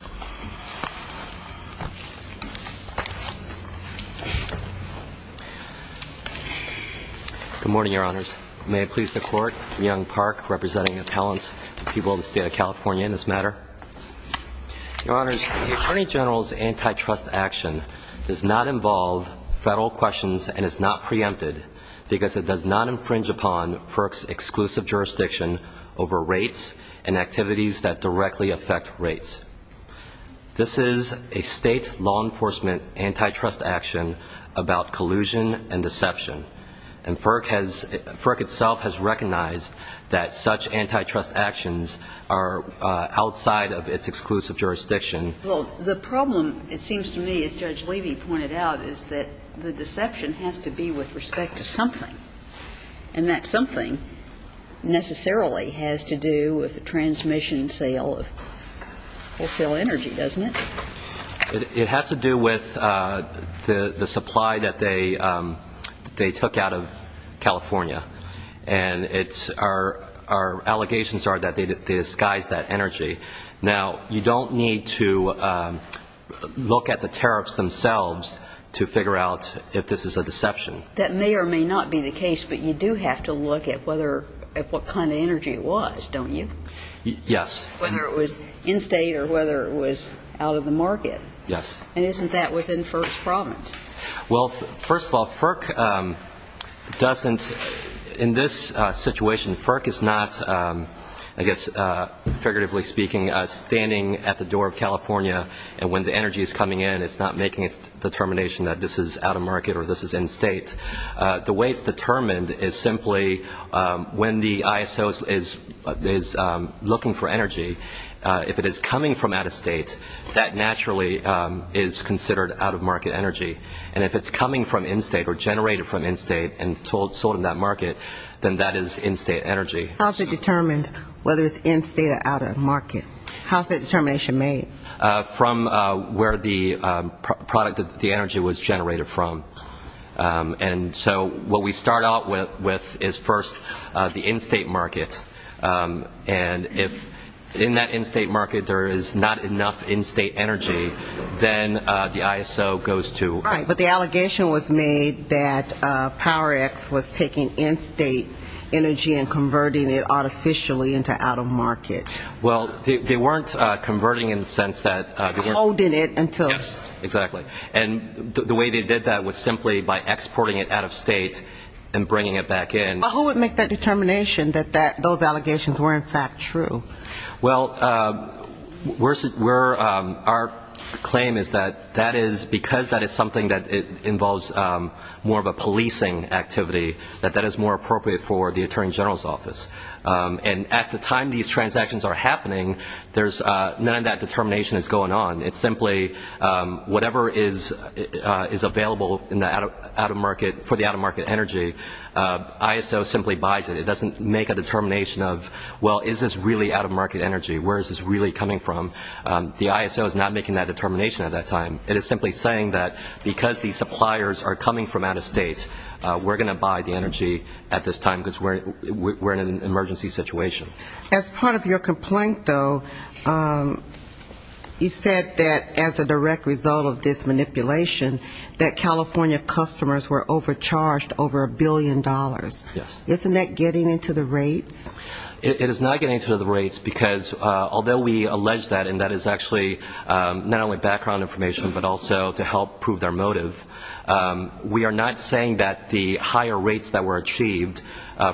Good morning, Your Honors. May it please the Court, Young Park, representing appellants to people of the State of California in this matter. Your Honors, the Attorney General's antitrust action does not involve federal questions and is not preempted because it does not infringe upon FERC's exclusive jurisdiction over rates and activities that directly affect rates. This is a state law enforcement antitrust action about collusion and deception, and FERC has, FERC itself has recognized that such antitrust actions are outside of its exclusive jurisdiction. Well, the problem, it seems to me, as Judge Levy pointed out, is that the deception has to be with respect to something, and that something necessarily has to do with the transmission and sale of energy, doesn't it? It has to do with the supply that they took out of California, and our allegations are that they disguised that energy. Now, you don't need to look at the tariffs themselves to figure out if this is a deception. That may or may not be the case, but you do have to look at what kind of energy it was, don't you? Yes. Whether it was in-state or whether it was out-of-the-market, and isn't that within FERC's promise? Well, first of all, FERC doesn't, in this situation, FERC is not, I guess figuratively speaking, standing at the door of California, and when the energy is coming in, it's not making its determination that this is out-of-market or this is in-state. The way it's determined is simply when the ISO is looking for energy, if it is coming from out-of-state, that naturally is considered out-of-market energy, and if it's coming from in-state or generated from in-state and sold in that market, then that is in-state energy. How's it determined whether it's in-state or out-of-market? How's that determination made? From where the product, the energy was generated from, and so what we start out with is first the in-state market, and if in that in-state market there is not enough in-state energy, then the ISO goes to Right, but the allegation was made that PowerX was taking in-state energy and converting it artificially into out-of-market. Well, they weren't converting in the sense that Holding it until Yes, exactly. And the way they did that was simply by exporting it out-of-state and bringing it back in. But who would make that determination that those allegations were in fact true? Well, our claim is that that is, because that is something that involves more of a policing activity, that that is more appropriate for the Attorney General's office. And at the time these transactions are happening, none of that determination is going on. It's simply whatever is available for the out-of-market energy, ISO simply buys it. It doesn't make a determination of, well, is this really out-of-market energy? Where is this really coming from? The ISO is not making that determination at that time. It is simply saying that because these suppliers are coming from out-of-state, we're going to buy the energy at this time because we're in an emergency situation. As part of your complaint, though, you said that as a direct result of this manipulation that California customers were overcharged over a billion dollars. Yes. Isn't that getting into the rates? It is not getting into the rates because although we allege that, and that is actually not only background information, but also to help prove their motive, we are not saying that the higher rates that were achieved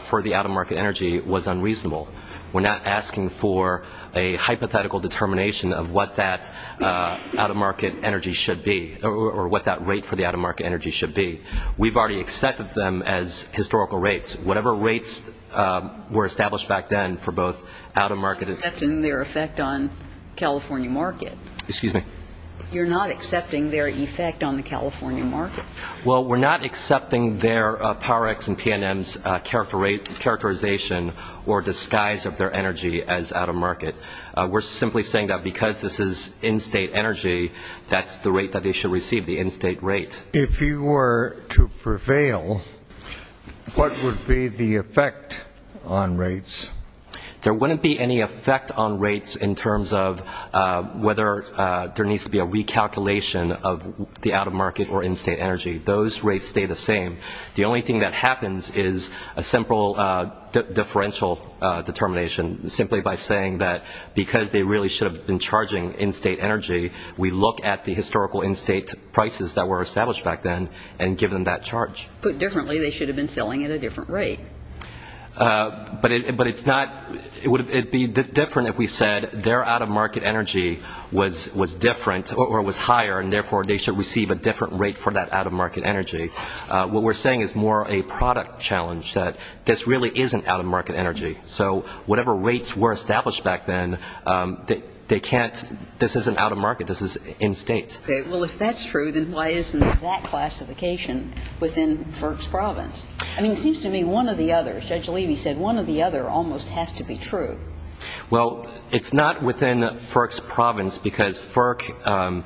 for the out-of-market energy was unreasonable. We're not asking for a hypothetical determination of what that out-of-market energy should be, or what that rate for the out-of-market energy should be. We've already accepted them as historical rates. Whatever rates were established back then for both out-of-market You're not accepting their effect on California market. Excuse me? You're not accepting their effect on the California market. Well, we're not accepting their PowerX and P&M's characterization or disguise of their energy as out-of-market. We're simply saying that because this is in-state energy, that's the rate that they should receive, the in-state rate. If you were to prevail, what would be the effect on rates? There wouldn't be any effect on rates in terms of whether there needs to be a recalculation of the out-of-market or in-state energy. Those rates stay the same. The only thing that happens is a simple differential determination, simply by saying that because they really should have been charging in-state energy, we look at the historical in-state prices that were established back then and give them that charge. Put differently, they should have been selling at a different rate. But it's not, it would be different if we said their out-of-market energy was different or was higher, and therefore they should receive a different rate for that out-of-market energy. What we're saying is more a product challenge, that this really isn't out-of-market energy. So whatever rates were established back then, they can't, this isn't out-of-market, this is in-state. Well, if that's true, then why isn't that classification within FERC's province? I mean, it seems to me one or the other, as Judge Levy said, one or the other almost has to be true. Well, it's not within FERC's province, because FERC,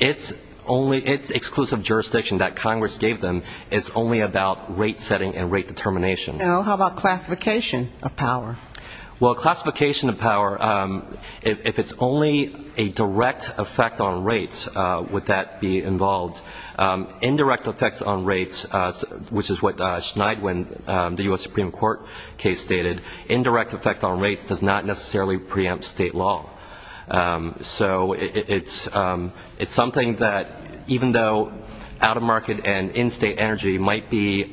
it's only, it's exclusive jurisdiction that Congress gave them, it's only about rate setting and rate determination. Well, how about classification of power? Well, classification of power, if it's only a direct effect on rates, would that be involved? Indirect effects on rates, which is what Schneidwin, the U.S. Supreme Court case stated, indirect effect on rates does not necessarily preempt state law. So it's something that, even though out-of-market and in-state energy might be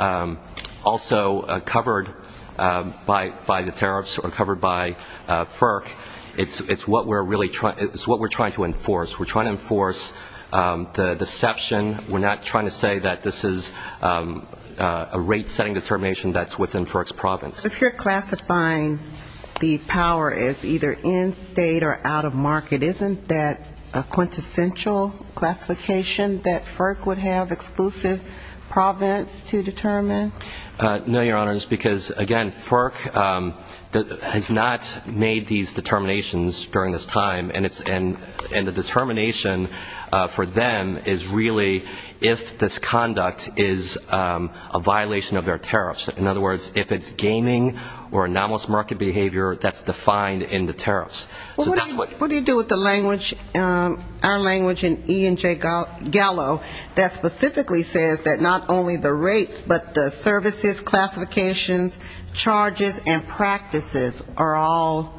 also covered by the tariffs or covered by FERC, it's what we're trying to enforce. We're trying to enforce the deception, we're not trying to say that this is a rate setting determination that's within FERC's province. So if you're classifying the power as either in-state or out-of-market, isn't that a quintessential classification that FERC would have exclusive province to determine? No, Your Honor, just because, again, FERC has not made these determinations during this time, and the determination for them is really if this conduct is a violation of their tariffs. In other words, if it's gaming or anomalous market behavior, that's defined in the tariffs. Well, what do you do with the language, our language in E&J Gallo that specifically says that not only the rates, but the services, classifications, charges, and practices are all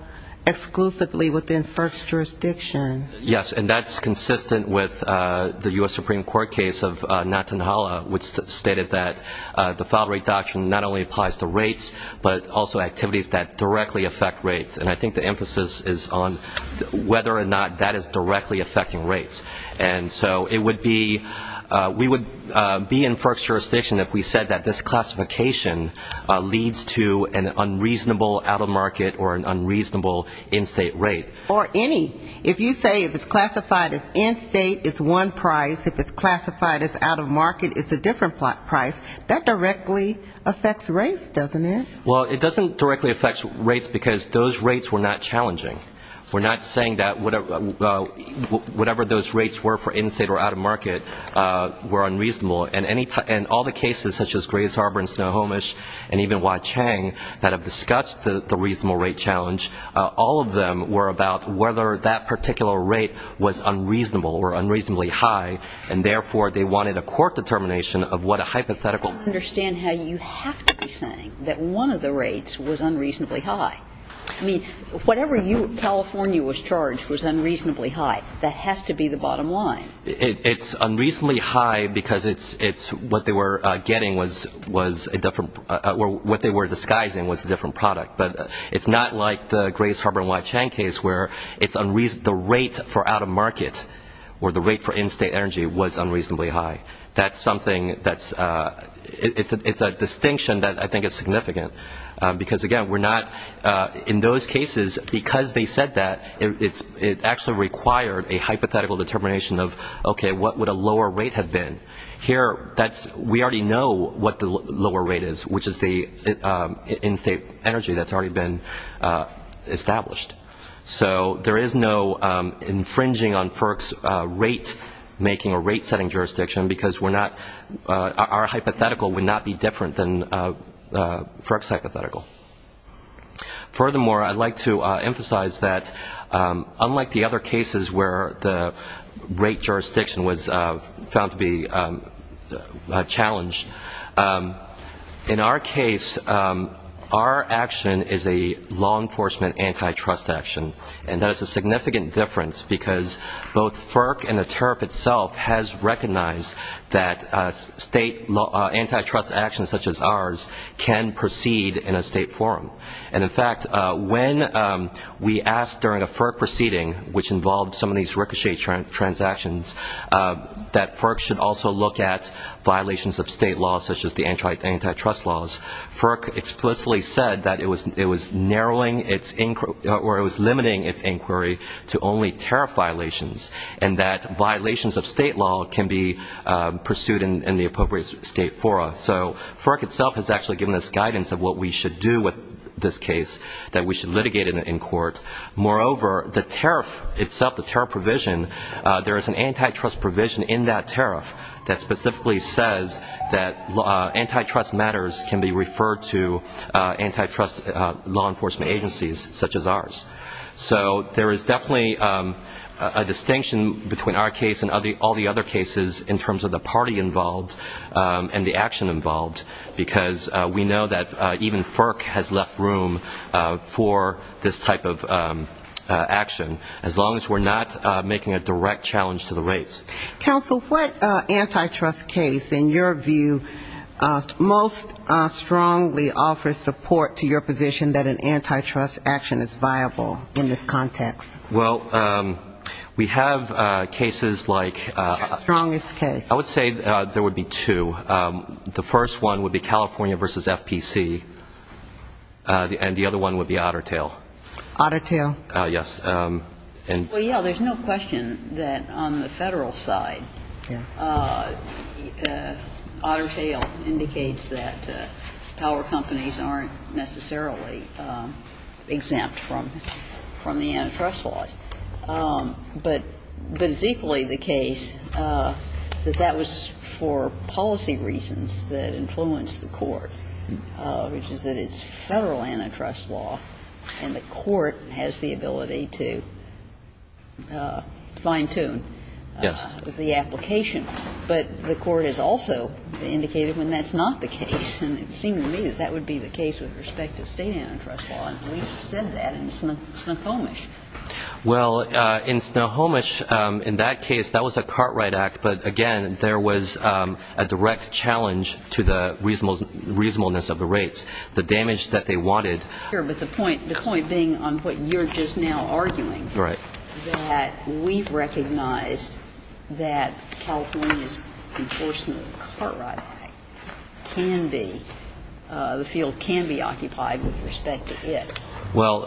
exclusively within FERC's jurisdiction? Yes, and that's consistent with the U.S. Supreme Court case of Nantanhala, which stated that the filed rate doctrine not only applies to rates, but also activities that directly affect rates. And I think the emphasis is on whether or not that is directly affecting rates. And so it would be, we would be in FERC's jurisdiction if we said that this classification leads to an unreasonable out-of-market or an unreasonable in-state rate. Or any. If you say if it's classified as in-state, it's one price. If it's classified as out-of-market, it's a different price. That directly affects rates, doesn't it? Well, it doesn't directly affect rates because those rates were not challenging. We're not saying that whatever those rates were for in-state or out-of-market were unreasonable. And all the cases such as Grays Harbor and Snohomish and even Waicheng that have discussed the reasonable rate challenge, all of them were about whether that particular rate was what a hypothetical. I don't understand how you have to be saying that one of the rates was unreasonably high. I mean, whatever you, California was charged was unreasonably high. That has to be the bottom line. It's unreasonably high because it's what they were getting was a different, what they were disguising was a different product. But it's not like the Grays Harbor and Waicheng case where it's unreasonable, the rate for out-of-market or the rate for in-state energy was unreasonably high. That's something that's, it's a distinction that I think is significant because, again, we're not, in those cases, because they said that, it actually required a hypothetical determination of, okay, what would a lower rate have been? Here that's, we already know what the lower rate is, which is the in-state energy that's already been established. So, there is no infringing on FERC's rate making or rate setting jurisdiction because we're not, our hypothetical would not be different than FERC's hypothetical. Furthermore, I'd like to emphasize that, unlike the other cases where the rate jurisdiction was found to be challenged, in our case, our action is a law enforcement antitrust action, and that is a significant difference because both FERC and the tariff itself has recognized that state antitrust actions such as ours can proceed in a state forum. And in fact, when we asked during a FERC proceeding, which involved some of these ricochet transactions, that FERC should also look at violations of state laws such as the antitrust laws, FERC explicitly said that it was narrowing its inquiry, or it was limiting its inquiry to only tariff violations, and that violations of state law can be pursued in the appropriate state forum. So, FERC itself has actually given us guidance of what we should do with this case, that we should litigate it in court. Moreover, the tariff itself, the tariff provision, there is an antitrust provision in that tariff that specifically says that antitrust matters can be referred to antitrust law enforcement agencies such as ours. So, there is definitely a distinction between our case and all the other cases in terms of the party involved and the action involved, because we know that even FERC has left room for this type of action, as long as we're not making a direct challenge to the rates. Counsel, what antitrust case, in your view, most strongly offers support to your position that an antitrust action is viable in this context? Well, we have cases like the first one would be California v. FPC, and the other one would be Otter Tail. Otter Tail? Yes. Well, yeah, there's no question that on the Federal side, Otter Tail indicates that power companies aren't necessarily exempt from the antitrust laws. But it's equally the case that that was for policy reasons that influenced the court, which has the ability to fine-tune the application. But the court has also indicated when that's not the case, and it seemed to me that that would be the case with respect to state antitrust law, and we've said that in Snohomish. Well, in Snohomish, in that case, that was a cartwright act, but again, there was a direct challenge to the reasonableness of the rates, the damage that they wanted. But the point being on what you're just now arguing, that we've recognized that California's enforcement of the cartwright act can be, the field can be occupied with respect to it. Well,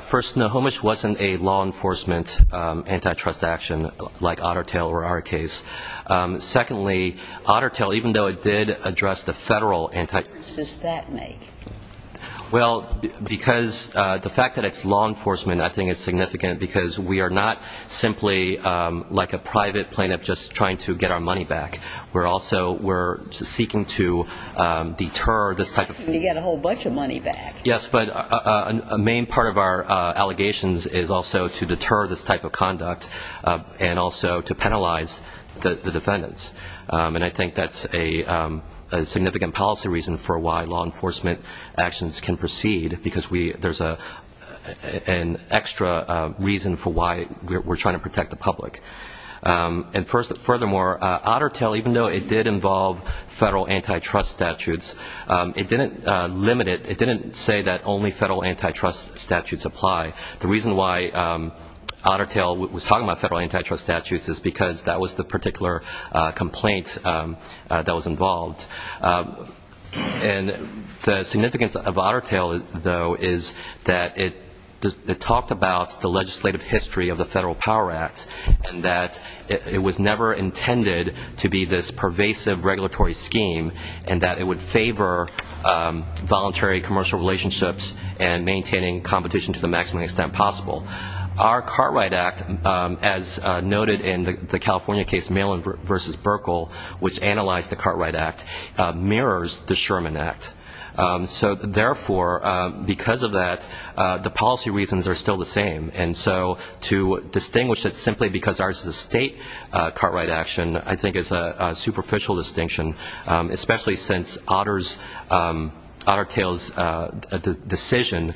first, Snohomish wasn't a law enforcement antitrust action like Otter Tail or our case. Secondly, Otter Tail, even though it did address the Federal antitrust... What difference does that make? Well, because the fact that it's law enforcement, I think, is significant because we are not simply like a private plaintiff just trying to get our money back. We're also, we're seeking to deter this type of... You're not seeking to get a whole bunch of money back. Yes, but a main part of our allegations is also to deter this type of conduct and also to penalize the defendants. And I think that's a significant policy reason for why law enforcement actions can proceed because there's an extra reason for why we're trying to protect the public. And furthermore, Otter Tail, even though it did involve Federal antitrust statutes, it didn't limit it. It didn't say that only Federal antitrust statutes apply. The reason why Otter Tail was talking about Federal antitrust statutes is because that was the particular complaint that was involved. And the significance of Otter Tail, though, is that it talked about the legislative history of the Federal Power Act and that it was never intended to be this pervasive regulatory scheme and that it would favor voluntary commercial relationships and maintaining competition to the maximum extent possible. Our Cartwright Act, as noted in the California case Malin v. Burkle, which analyzed the Cartwright Act, mirrors the Sherman Act. So therefore, because of that, the policy reasons are still the same. And so to distinguish it simply because ours is a state Cartwright action, I think, is a superficial distinction, especially since Otter Tail's decision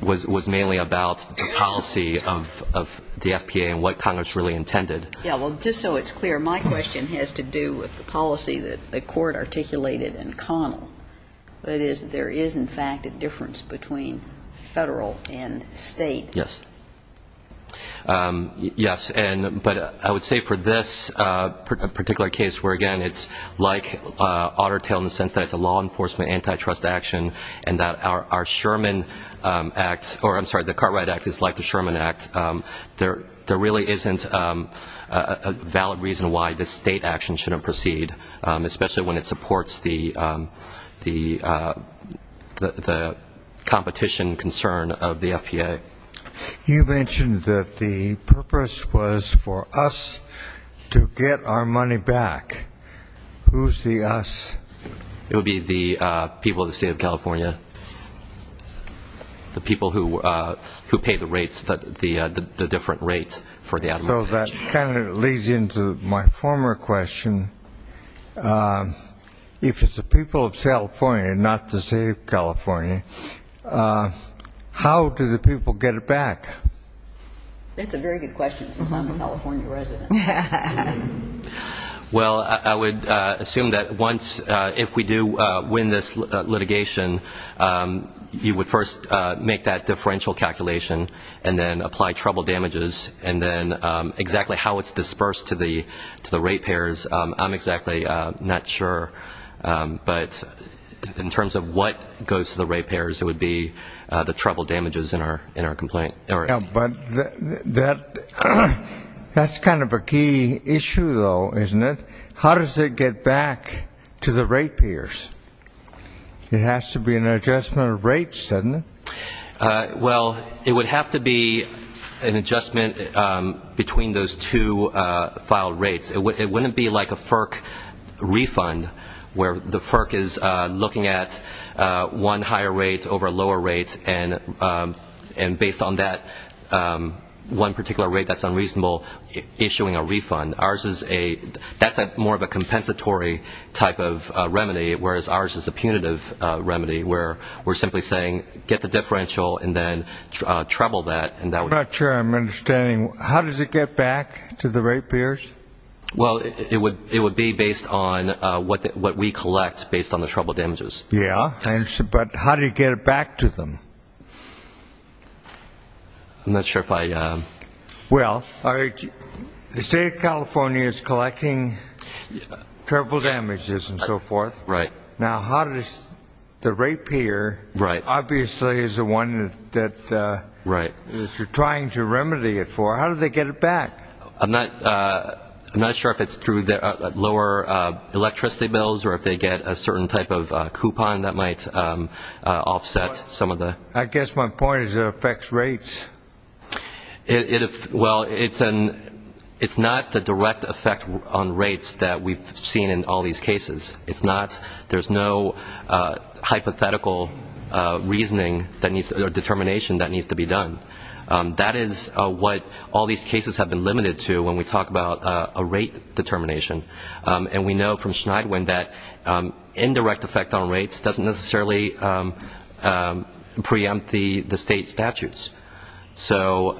was mainly about the policy of the FPA and what Congress really intended. Yeah. Well, just so it's clear, my question has to do with the policy that the Court articulated in Connell. That is, there is, in fact, a difference between Federal and state. Yes. Yes. And but I would say for this particular case where, again, it's like Otter Tail in the sense that it's a law enforcement antitrust action and that our Sherman Act or, I'm sorry, the Cartwright Act is like the Sherman Act, there really isn't a valid reason why the state action shouldn't proceed, especially when it supports the competition concern of the FPA. You mentioned that the purpose was for us to get our money back. Who's the us? It would be the people of the state of California, the people who pay the rates, the different rates for the out of mortgage. So that kind of leads into my former question. If it's the people of California and not the state of California, how do the people get it back? That's a very good question since I'm a California resident. Well, I would assume that once, if we do win this litigation, you would first make that differential calculation and then apply trouble damages and then exactly how it's dispersed to the rate payers, I'm exactly not sure. But in terms of what goes to the rate payers, it would be the trouble damages in our complaint. But that's kind of a key issue, though, isn't it? How does it get back to the rate payers? It has to be an adjustment of rates, doesn't it? Well, it would have to be an adjustment between those two filed rates. It wouldn't be like a one particular rate that's unreasonable issuing a refund. That's more of a compensatory type of remedy, whereas ours is a punitive remedy where we're simply saying get the differential and then trouble that. I'm not sure I'm understanding. How does it get back to the rate payers? Well, it would be based on what we collect based on the trouble damages. Yeah. But how do you get it back to them? I'm not sure if I. Well, the state of California is collecting trouble damages and so forth. Right. Now, how does the rate payer obviously is the one that you're trying to remedy it for. How do they get it back? I'm not sure if it's through lower electricity bills or if they get a certain type of coupon that might offset some of the. I guess my point is it affects rates. Well, it's not the direct effect on rates that we've seen in all these cases. It's not. There's no hypothetical reasoning or determination that needs to be done. That is what all these cases have been limited to when we talk about a rate determination. And we know from Schneidwin that indirect effect on rates doesn't necessarily preempt the state statutes. So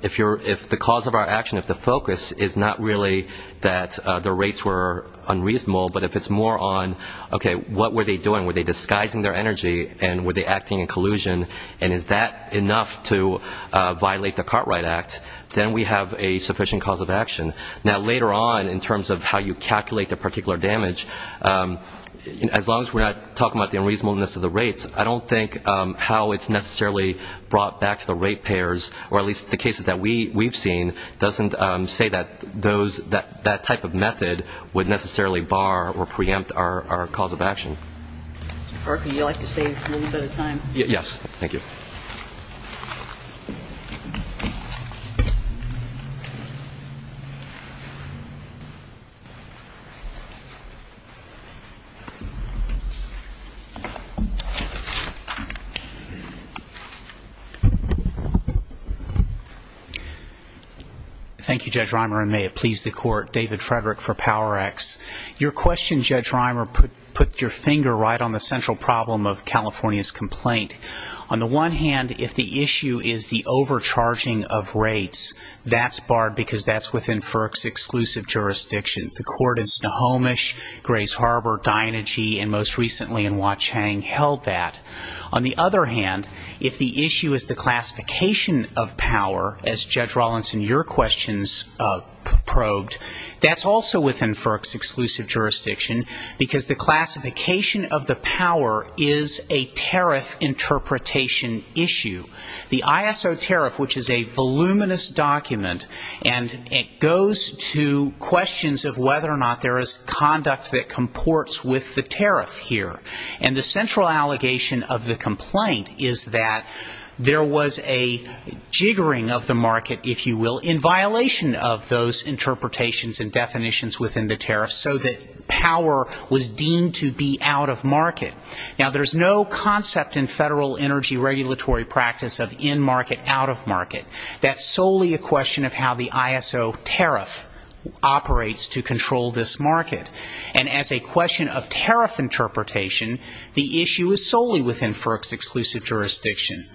if the cause of our action, if the focus is not really that the rates were unreasonable, but if it's more on, okay, what were they doing? And were they acting in collusion? And is that enough to violate the Cartwright Act? Then we have a sufficient cause of action. Now, later on, in terms of how you calculate the particular damage, as long as we're not talking about the unreasonableness of the rates, I don't think how it's necessarily brought back to the rate payers, or at least the cases that we've seen, doesn't say that that type of method would necessarily bar or preempt our cause of action. Mr. Parker, would you like to save a little bit of time? Yes. Thank you. Thank you, Judge Reimer. And may it please the Court, David Frederick for PowerX. Your question, Judge Reimer, put your finger right on the central problem of California's complaint. On the one hand, if the issue is the overcharging of rates, that's barred because that's within FERC's exclusive jurisdiction. The court in Snohomish, Grace Harbor, Dynegy, and most recently in Wauchang held that. On the other hand, if the issue is the classification of power, as Judge Rollins in your questions probed, that's also within FERC's exclusive jurisdiction, because the classification of the power is a tariff interpretation issue. The ISO tariff, which is a voluminous document, and it goes to questions of whether or not there is conduct that comports with the tariff here. And the central allegation of the complaint is that there was a jiggering of the market, if you will, in violation of those interpretations and definitions within the tariff, so that power was deemed to be out of market. Now, there's no concept in federal energy regulatory practice of in-market, out-of-market. That's solely a question of how the ISO tariff operates to control this market. And as a question of tariff interpretation, the issue is solely within FERC's exclusive jurisdiction.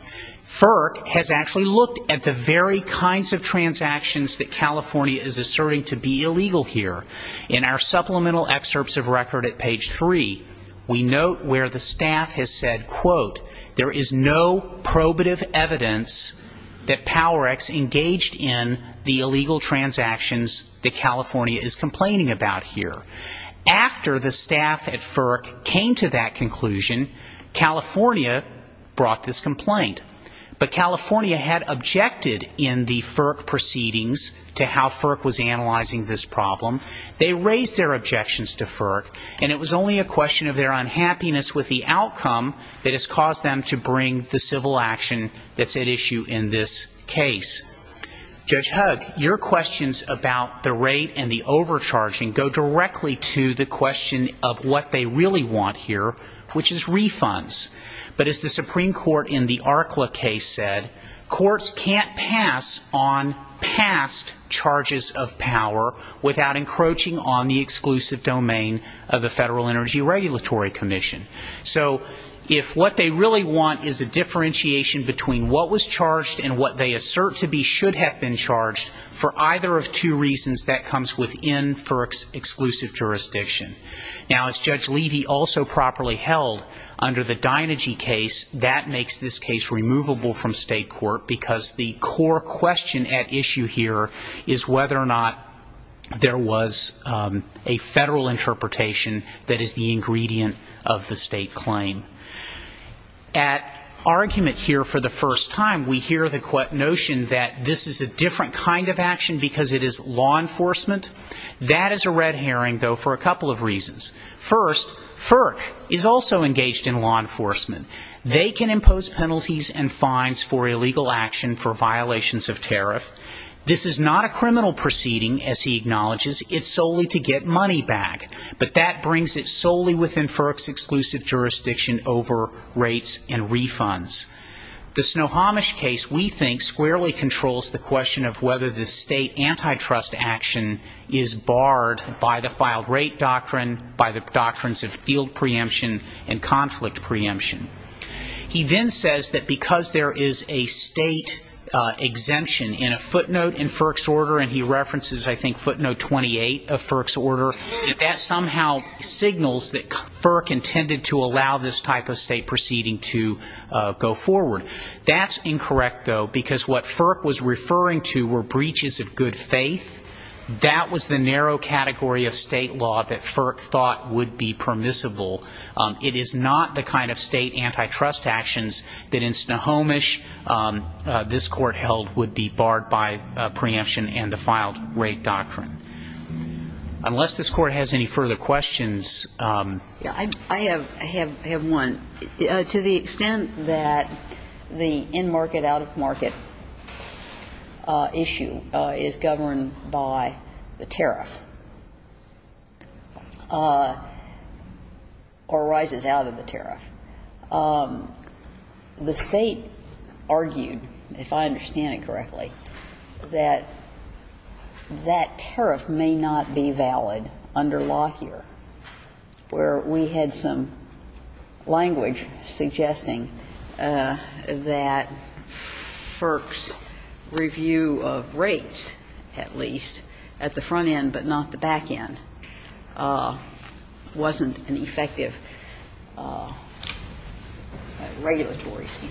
FERC has actually looked at the very kinds of transactions that California is asserting to be illegal here. In our supplemental excerpts of record at page three, we note where the staff has said, quote, there is no probative evidence that PowerX engaged in the illegal transactions that California is complaining about here. After the staff at FERC came to that conclusion, California brought this complaint. But California had objected in the FERC proceedings to how FERC was analyzing this problem. They raised their objections to FERC, and it was only a question of their unhappiness with the outcome that has caused them to bring the civil action that's at issue in this case. Judge Hugg, your questions about the rate and the overcharging go directly to the question of what they really want here, which is refunds. But as the Supreme Court in the ARCLA case said, courts can't pass on past charges of power without encroaching on the exclusive domain of the Federal Energy Regulatory Commission. So if what they really want is a differentiation between what was charged and what they assert to be should have been charged, for either of two reasons, that comes within FERC's exclusive jurisdiction. Now, as Judge Levy also properly held under the Dynegy case, that makes this case removable from state court, because the core question at issue here is whether or not there was a Federal interpretation that is the ingredient of the state claim. At argument here for the first time, we hear the notion that this is a different kind of action because it is law enforcement. That is a red herring, though, for a couple of reasons. First, FERC is also engaged in law enforcement. They can impose penalties and fines for illegal action for violations of tariff. This is not a criminal proceeding, as he acknowledges. It's solely to get money back. But that brings it solely within FERC's exclusive jurisdiction over rates and refunds. The Snohomish case, we think, squarely controls the question of whether the state antitrust action is barred by the filed rate doctrine, by the doctrines of field preemption and conflict preemption. He then says that because there is a state exemption in a footnote in FERC's order, and he references, I think, 1888 of FERC's order, that that somehow signals that FERC intended to allow this type of state proceeding to go forward. That's incorrect, though, because what FERC was referring to were breaches of good faith. That was the narrow category of state law that FERC thought would be permissible. It is not the kind of state antitrust actions that in Snohomish this court held would be barred by preemption and the filed rate doctrine. Unless this Court has any further questions. I have one. To the extent that the in-market, out-of-market issue is governed by the tariff or rises out of the tariff, the State argued, if I understand it correctly, that that tariff may not be valid under law here, where we had some language suggesting that FERC's review of rates, at least, at the front end but not the back end, wasn't an effective regulatory scheme.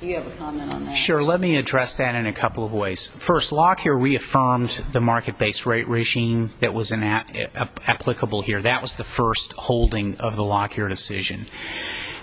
Do you have a comment on that? Sure. Let me address that in a couple of ways. First, law here reaffirmed the market-based rate regime that was applicable here. That was the first holding of the law here decision.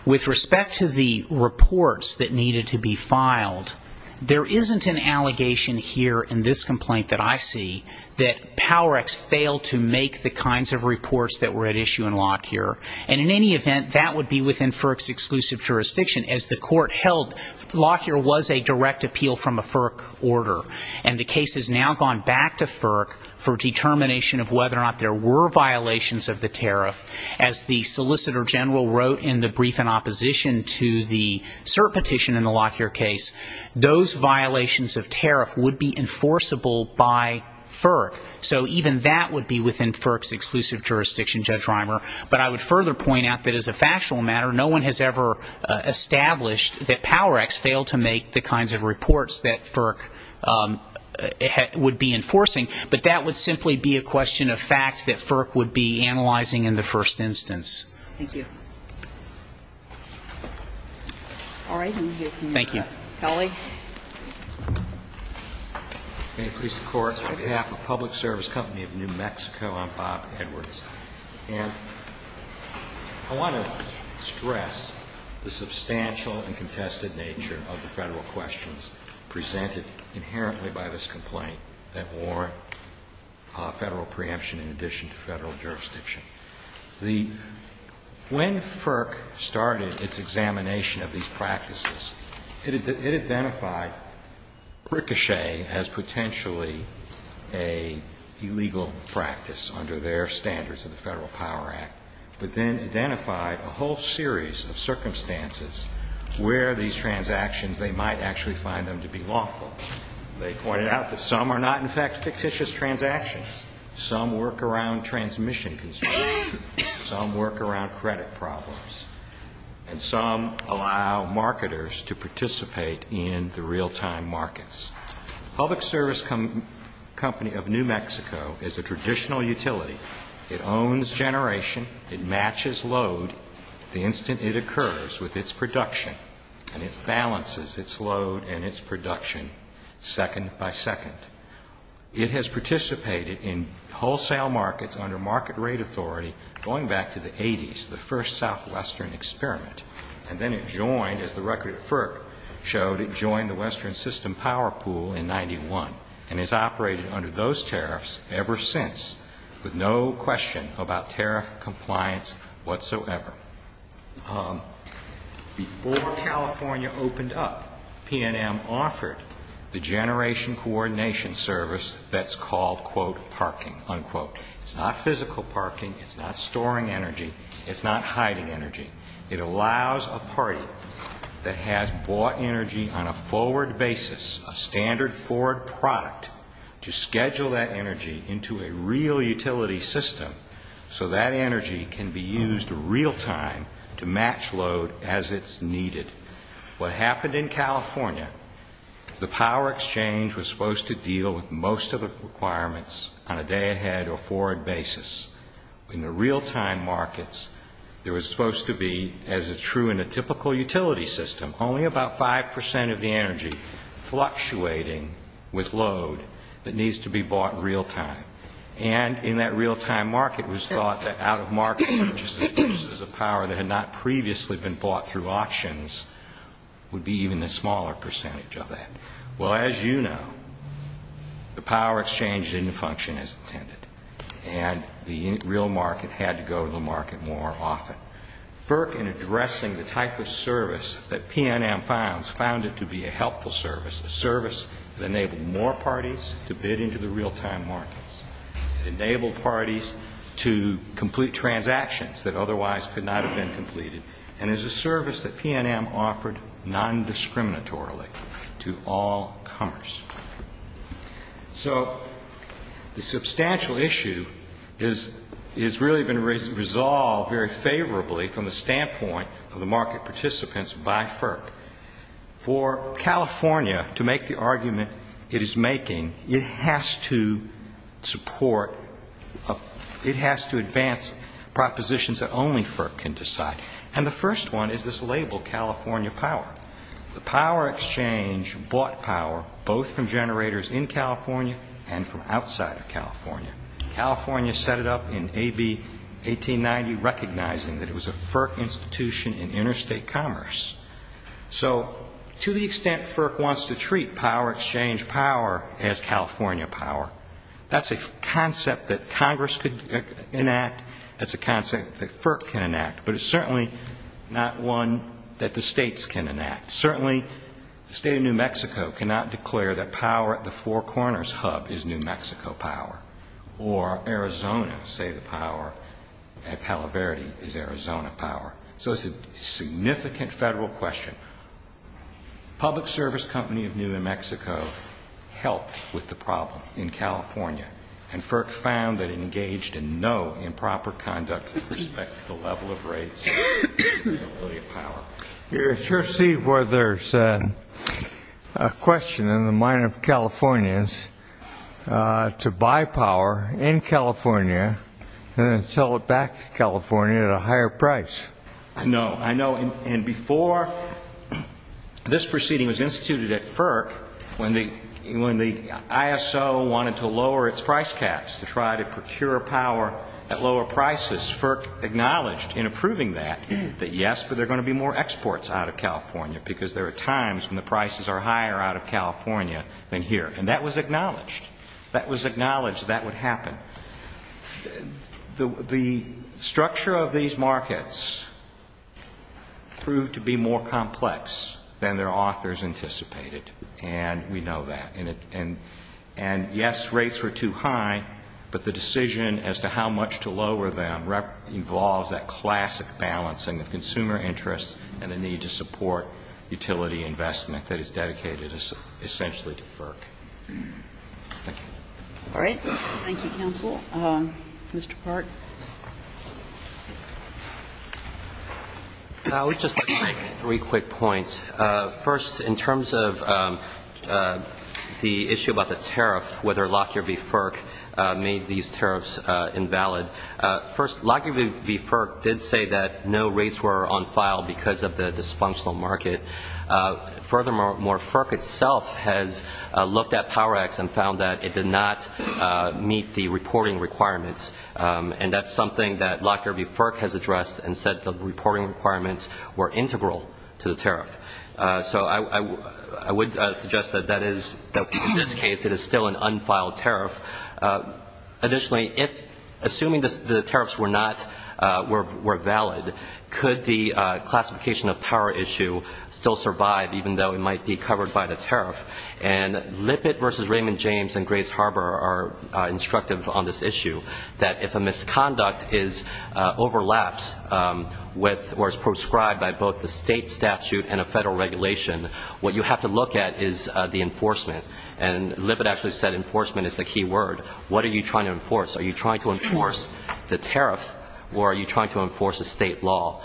With respect to the reports that needed to be filed, there isn't an allegation here in this complaint that I see that PowerX failed to make the kinds of reports that were at issue in law here. And in any event, that would be within FERC's exclusive jurisdiction. As the Court held, law here was a direct appeal from a FERC order. And the case has now gone back to FERC for determination of whether or not there were violations of the tariff. As the Solicitor General wrote in the brief in opposition to the cert petition in the law here case, those violations of tariff would be enforceable by FERC. So even that would be within FERC's exclusive jurisdiction, Judge Reimer. But I would further point out that as a factual matter, no one has ever established that PowerX failed to make the kinds of reports that FERC would be enforcing. But that would simply be a question of fact that FERC would be analyzing in the first instance. Thank you. All right. Thank you. Kelly. May it please the Court, on behalf of Public Service Company of New Mexico, I'm Bob Edwards. And I want to stress the substantial and contested nature of the Federal questions presented inherently by this complaint that warrant Federal preemption in addition to Federal jurisdiction. When FERC started its examination of these practices, it identified ricochet as potentially an illegal practice under their standards of the Federal Power Act, but then identified a whole series of circumstances where these transactions, they might actually find them to be lawful. They pointed out that some are not, in fact, fictitious transactions. Some work around transmission constraints. Some work around credit problems. And some allow marketers to participate in the real-time markets. Public Service Company of New Mexico is a traditional utility. It owns generation. It matches load the instant it occurs with its production. And it balances its load and its production second by second. It has participated in wholesale markets under market rate authority going back to the 80s, the first southwestern experiment. And then it joined, as the record of FERC showed, it joined the western system power pool in 91 and has operated under those tariffs ever since with no question about tariff compliance whatsoever. Before California opened up, PNM offered the generation coordination service that's called, quote, parking, unquote. It's not physical parking. It's not storing energy. It's not hiding energy. It allows a party that has bought energy on a forward basis, a standard forward product, to schedule that energy into a real utility system so that energy can be used real-time to match load as it's needed. What happened in California, the power exchange was supposed to deal with most of the requirements on a day-ahead or forward basis. In the real-time markets, there was supposed to be, as is true in a typical utility system, only about 5% of the energy fluctuating with load that needs to be bought real-time. And in that real-time market, it was thought that out-of-market purchases of power that had not previously been bought through auctions would be even a smaller percentage of that. Well, as you know, the power exchange didn't function as intended, and the real market had to go to the market more often. FERC, in addressing the type of service that PNM found, found it to be a helpful service, a service that enabled more parties to bid into the real-time markets, enabled parties to complete transactions that otherwise could not have been completed, and is a service that PNM offered non-discriminatorily to all comers. So the substantial issue has really been resolved very favorably from the standpoint of the market participants by FERC. For California to make the argument it is making, it has to support, it has to advance propositions that only FERC can decide. And the first one is this label, California Power. The power exchange bought power both from generators in California and from outside of California. California set it up in A.B. 1890, recognizing that it was a FERC institution in interstate commerce. So to the extent FERC wants to treat power exchange power as California power, that's a concept that Congress could enact. That's a concept that FERC can enact. But it's certainly not one that the states can enact. Certainly the state of New Mexico cannot declare that power at the Four Corners hub is New Mexico power, or Arizona say the power at Palo Verde is Arizona power. So it's a significant federal question. Public Service Company of New Mexico helped with the problem in California, and FERC found that it engaged in no improper conduct with respect to the level of rates and the ability of power. I sure see where there's a question in the mind of Californians to buy power in California and then sell it back to California at a higher price. I know. I know. And before this proceeding was instituted at FERC, when the ISO wanted to lower its price caps to try to procure power at lower prices, FERC acknowledged in approving that that, yes, but there are going to be more exports out of California because there are times And that was acknowledged. That was acknowledged that would happen. The structure of these markets proved to be more complex than their authors anticipated, and we know that. And, yes, rates were too high, but the decision as to how much to lower them involves that classic balancing of consumer interests and the need to support Thank you. All right. Thank you, counsel. Mr. Park. I would just like to make three quick points. First, in terms of the issue about the tariff, whether Lockyer v. FERC made these tariffs invalid. First, Lockyer v. FERC did say that no rates were on file because of the dysfunctional market. Furthermore, FERC itself has looked at PowerX and found that it did not meet the reporting requirements, and that's something that Lockyer v. FERC has addressed and said the reporting requirements were integral to the tariff. So I would suggest that that is, in this case, it is still an unfiled tariff. Additionally, assuming the tariffs were not, were valid, could the classification of power issue still survive, even though it might be covered by the tariff? And Lippitt v. Raymond James and Grace Harbor are instructive on this issue, that if a misconduct overlaps or is prescribed by both the state statute and a federal regulation, what you have to look at is the enforcement. And Lippitt actually said enforcement is the key word. What are you trying to enforce? Are you trying to enforce the tariff or are you trying to enforce a state law?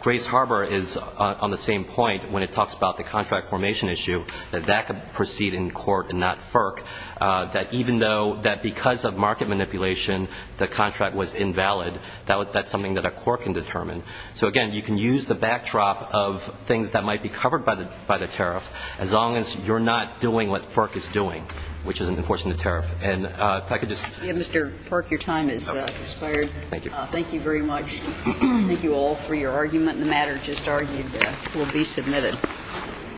Grace Harbor is on the same point when it talks about the contract formation issue, that that could proceed in court and not FERC, that even though, that because of market manipulation, the contract was invalid, that's something that a court can determine. So, again, you can use the backdrop of things that might be covered by the tariff as long as you're not doing what FERC is doing, which is enforcing the tariff. And if I could just ---- Yeah, Mr. Park, your time has expired. Thank you. Thank you very much. Thank you all for your argument. The matter just argued will be submitted.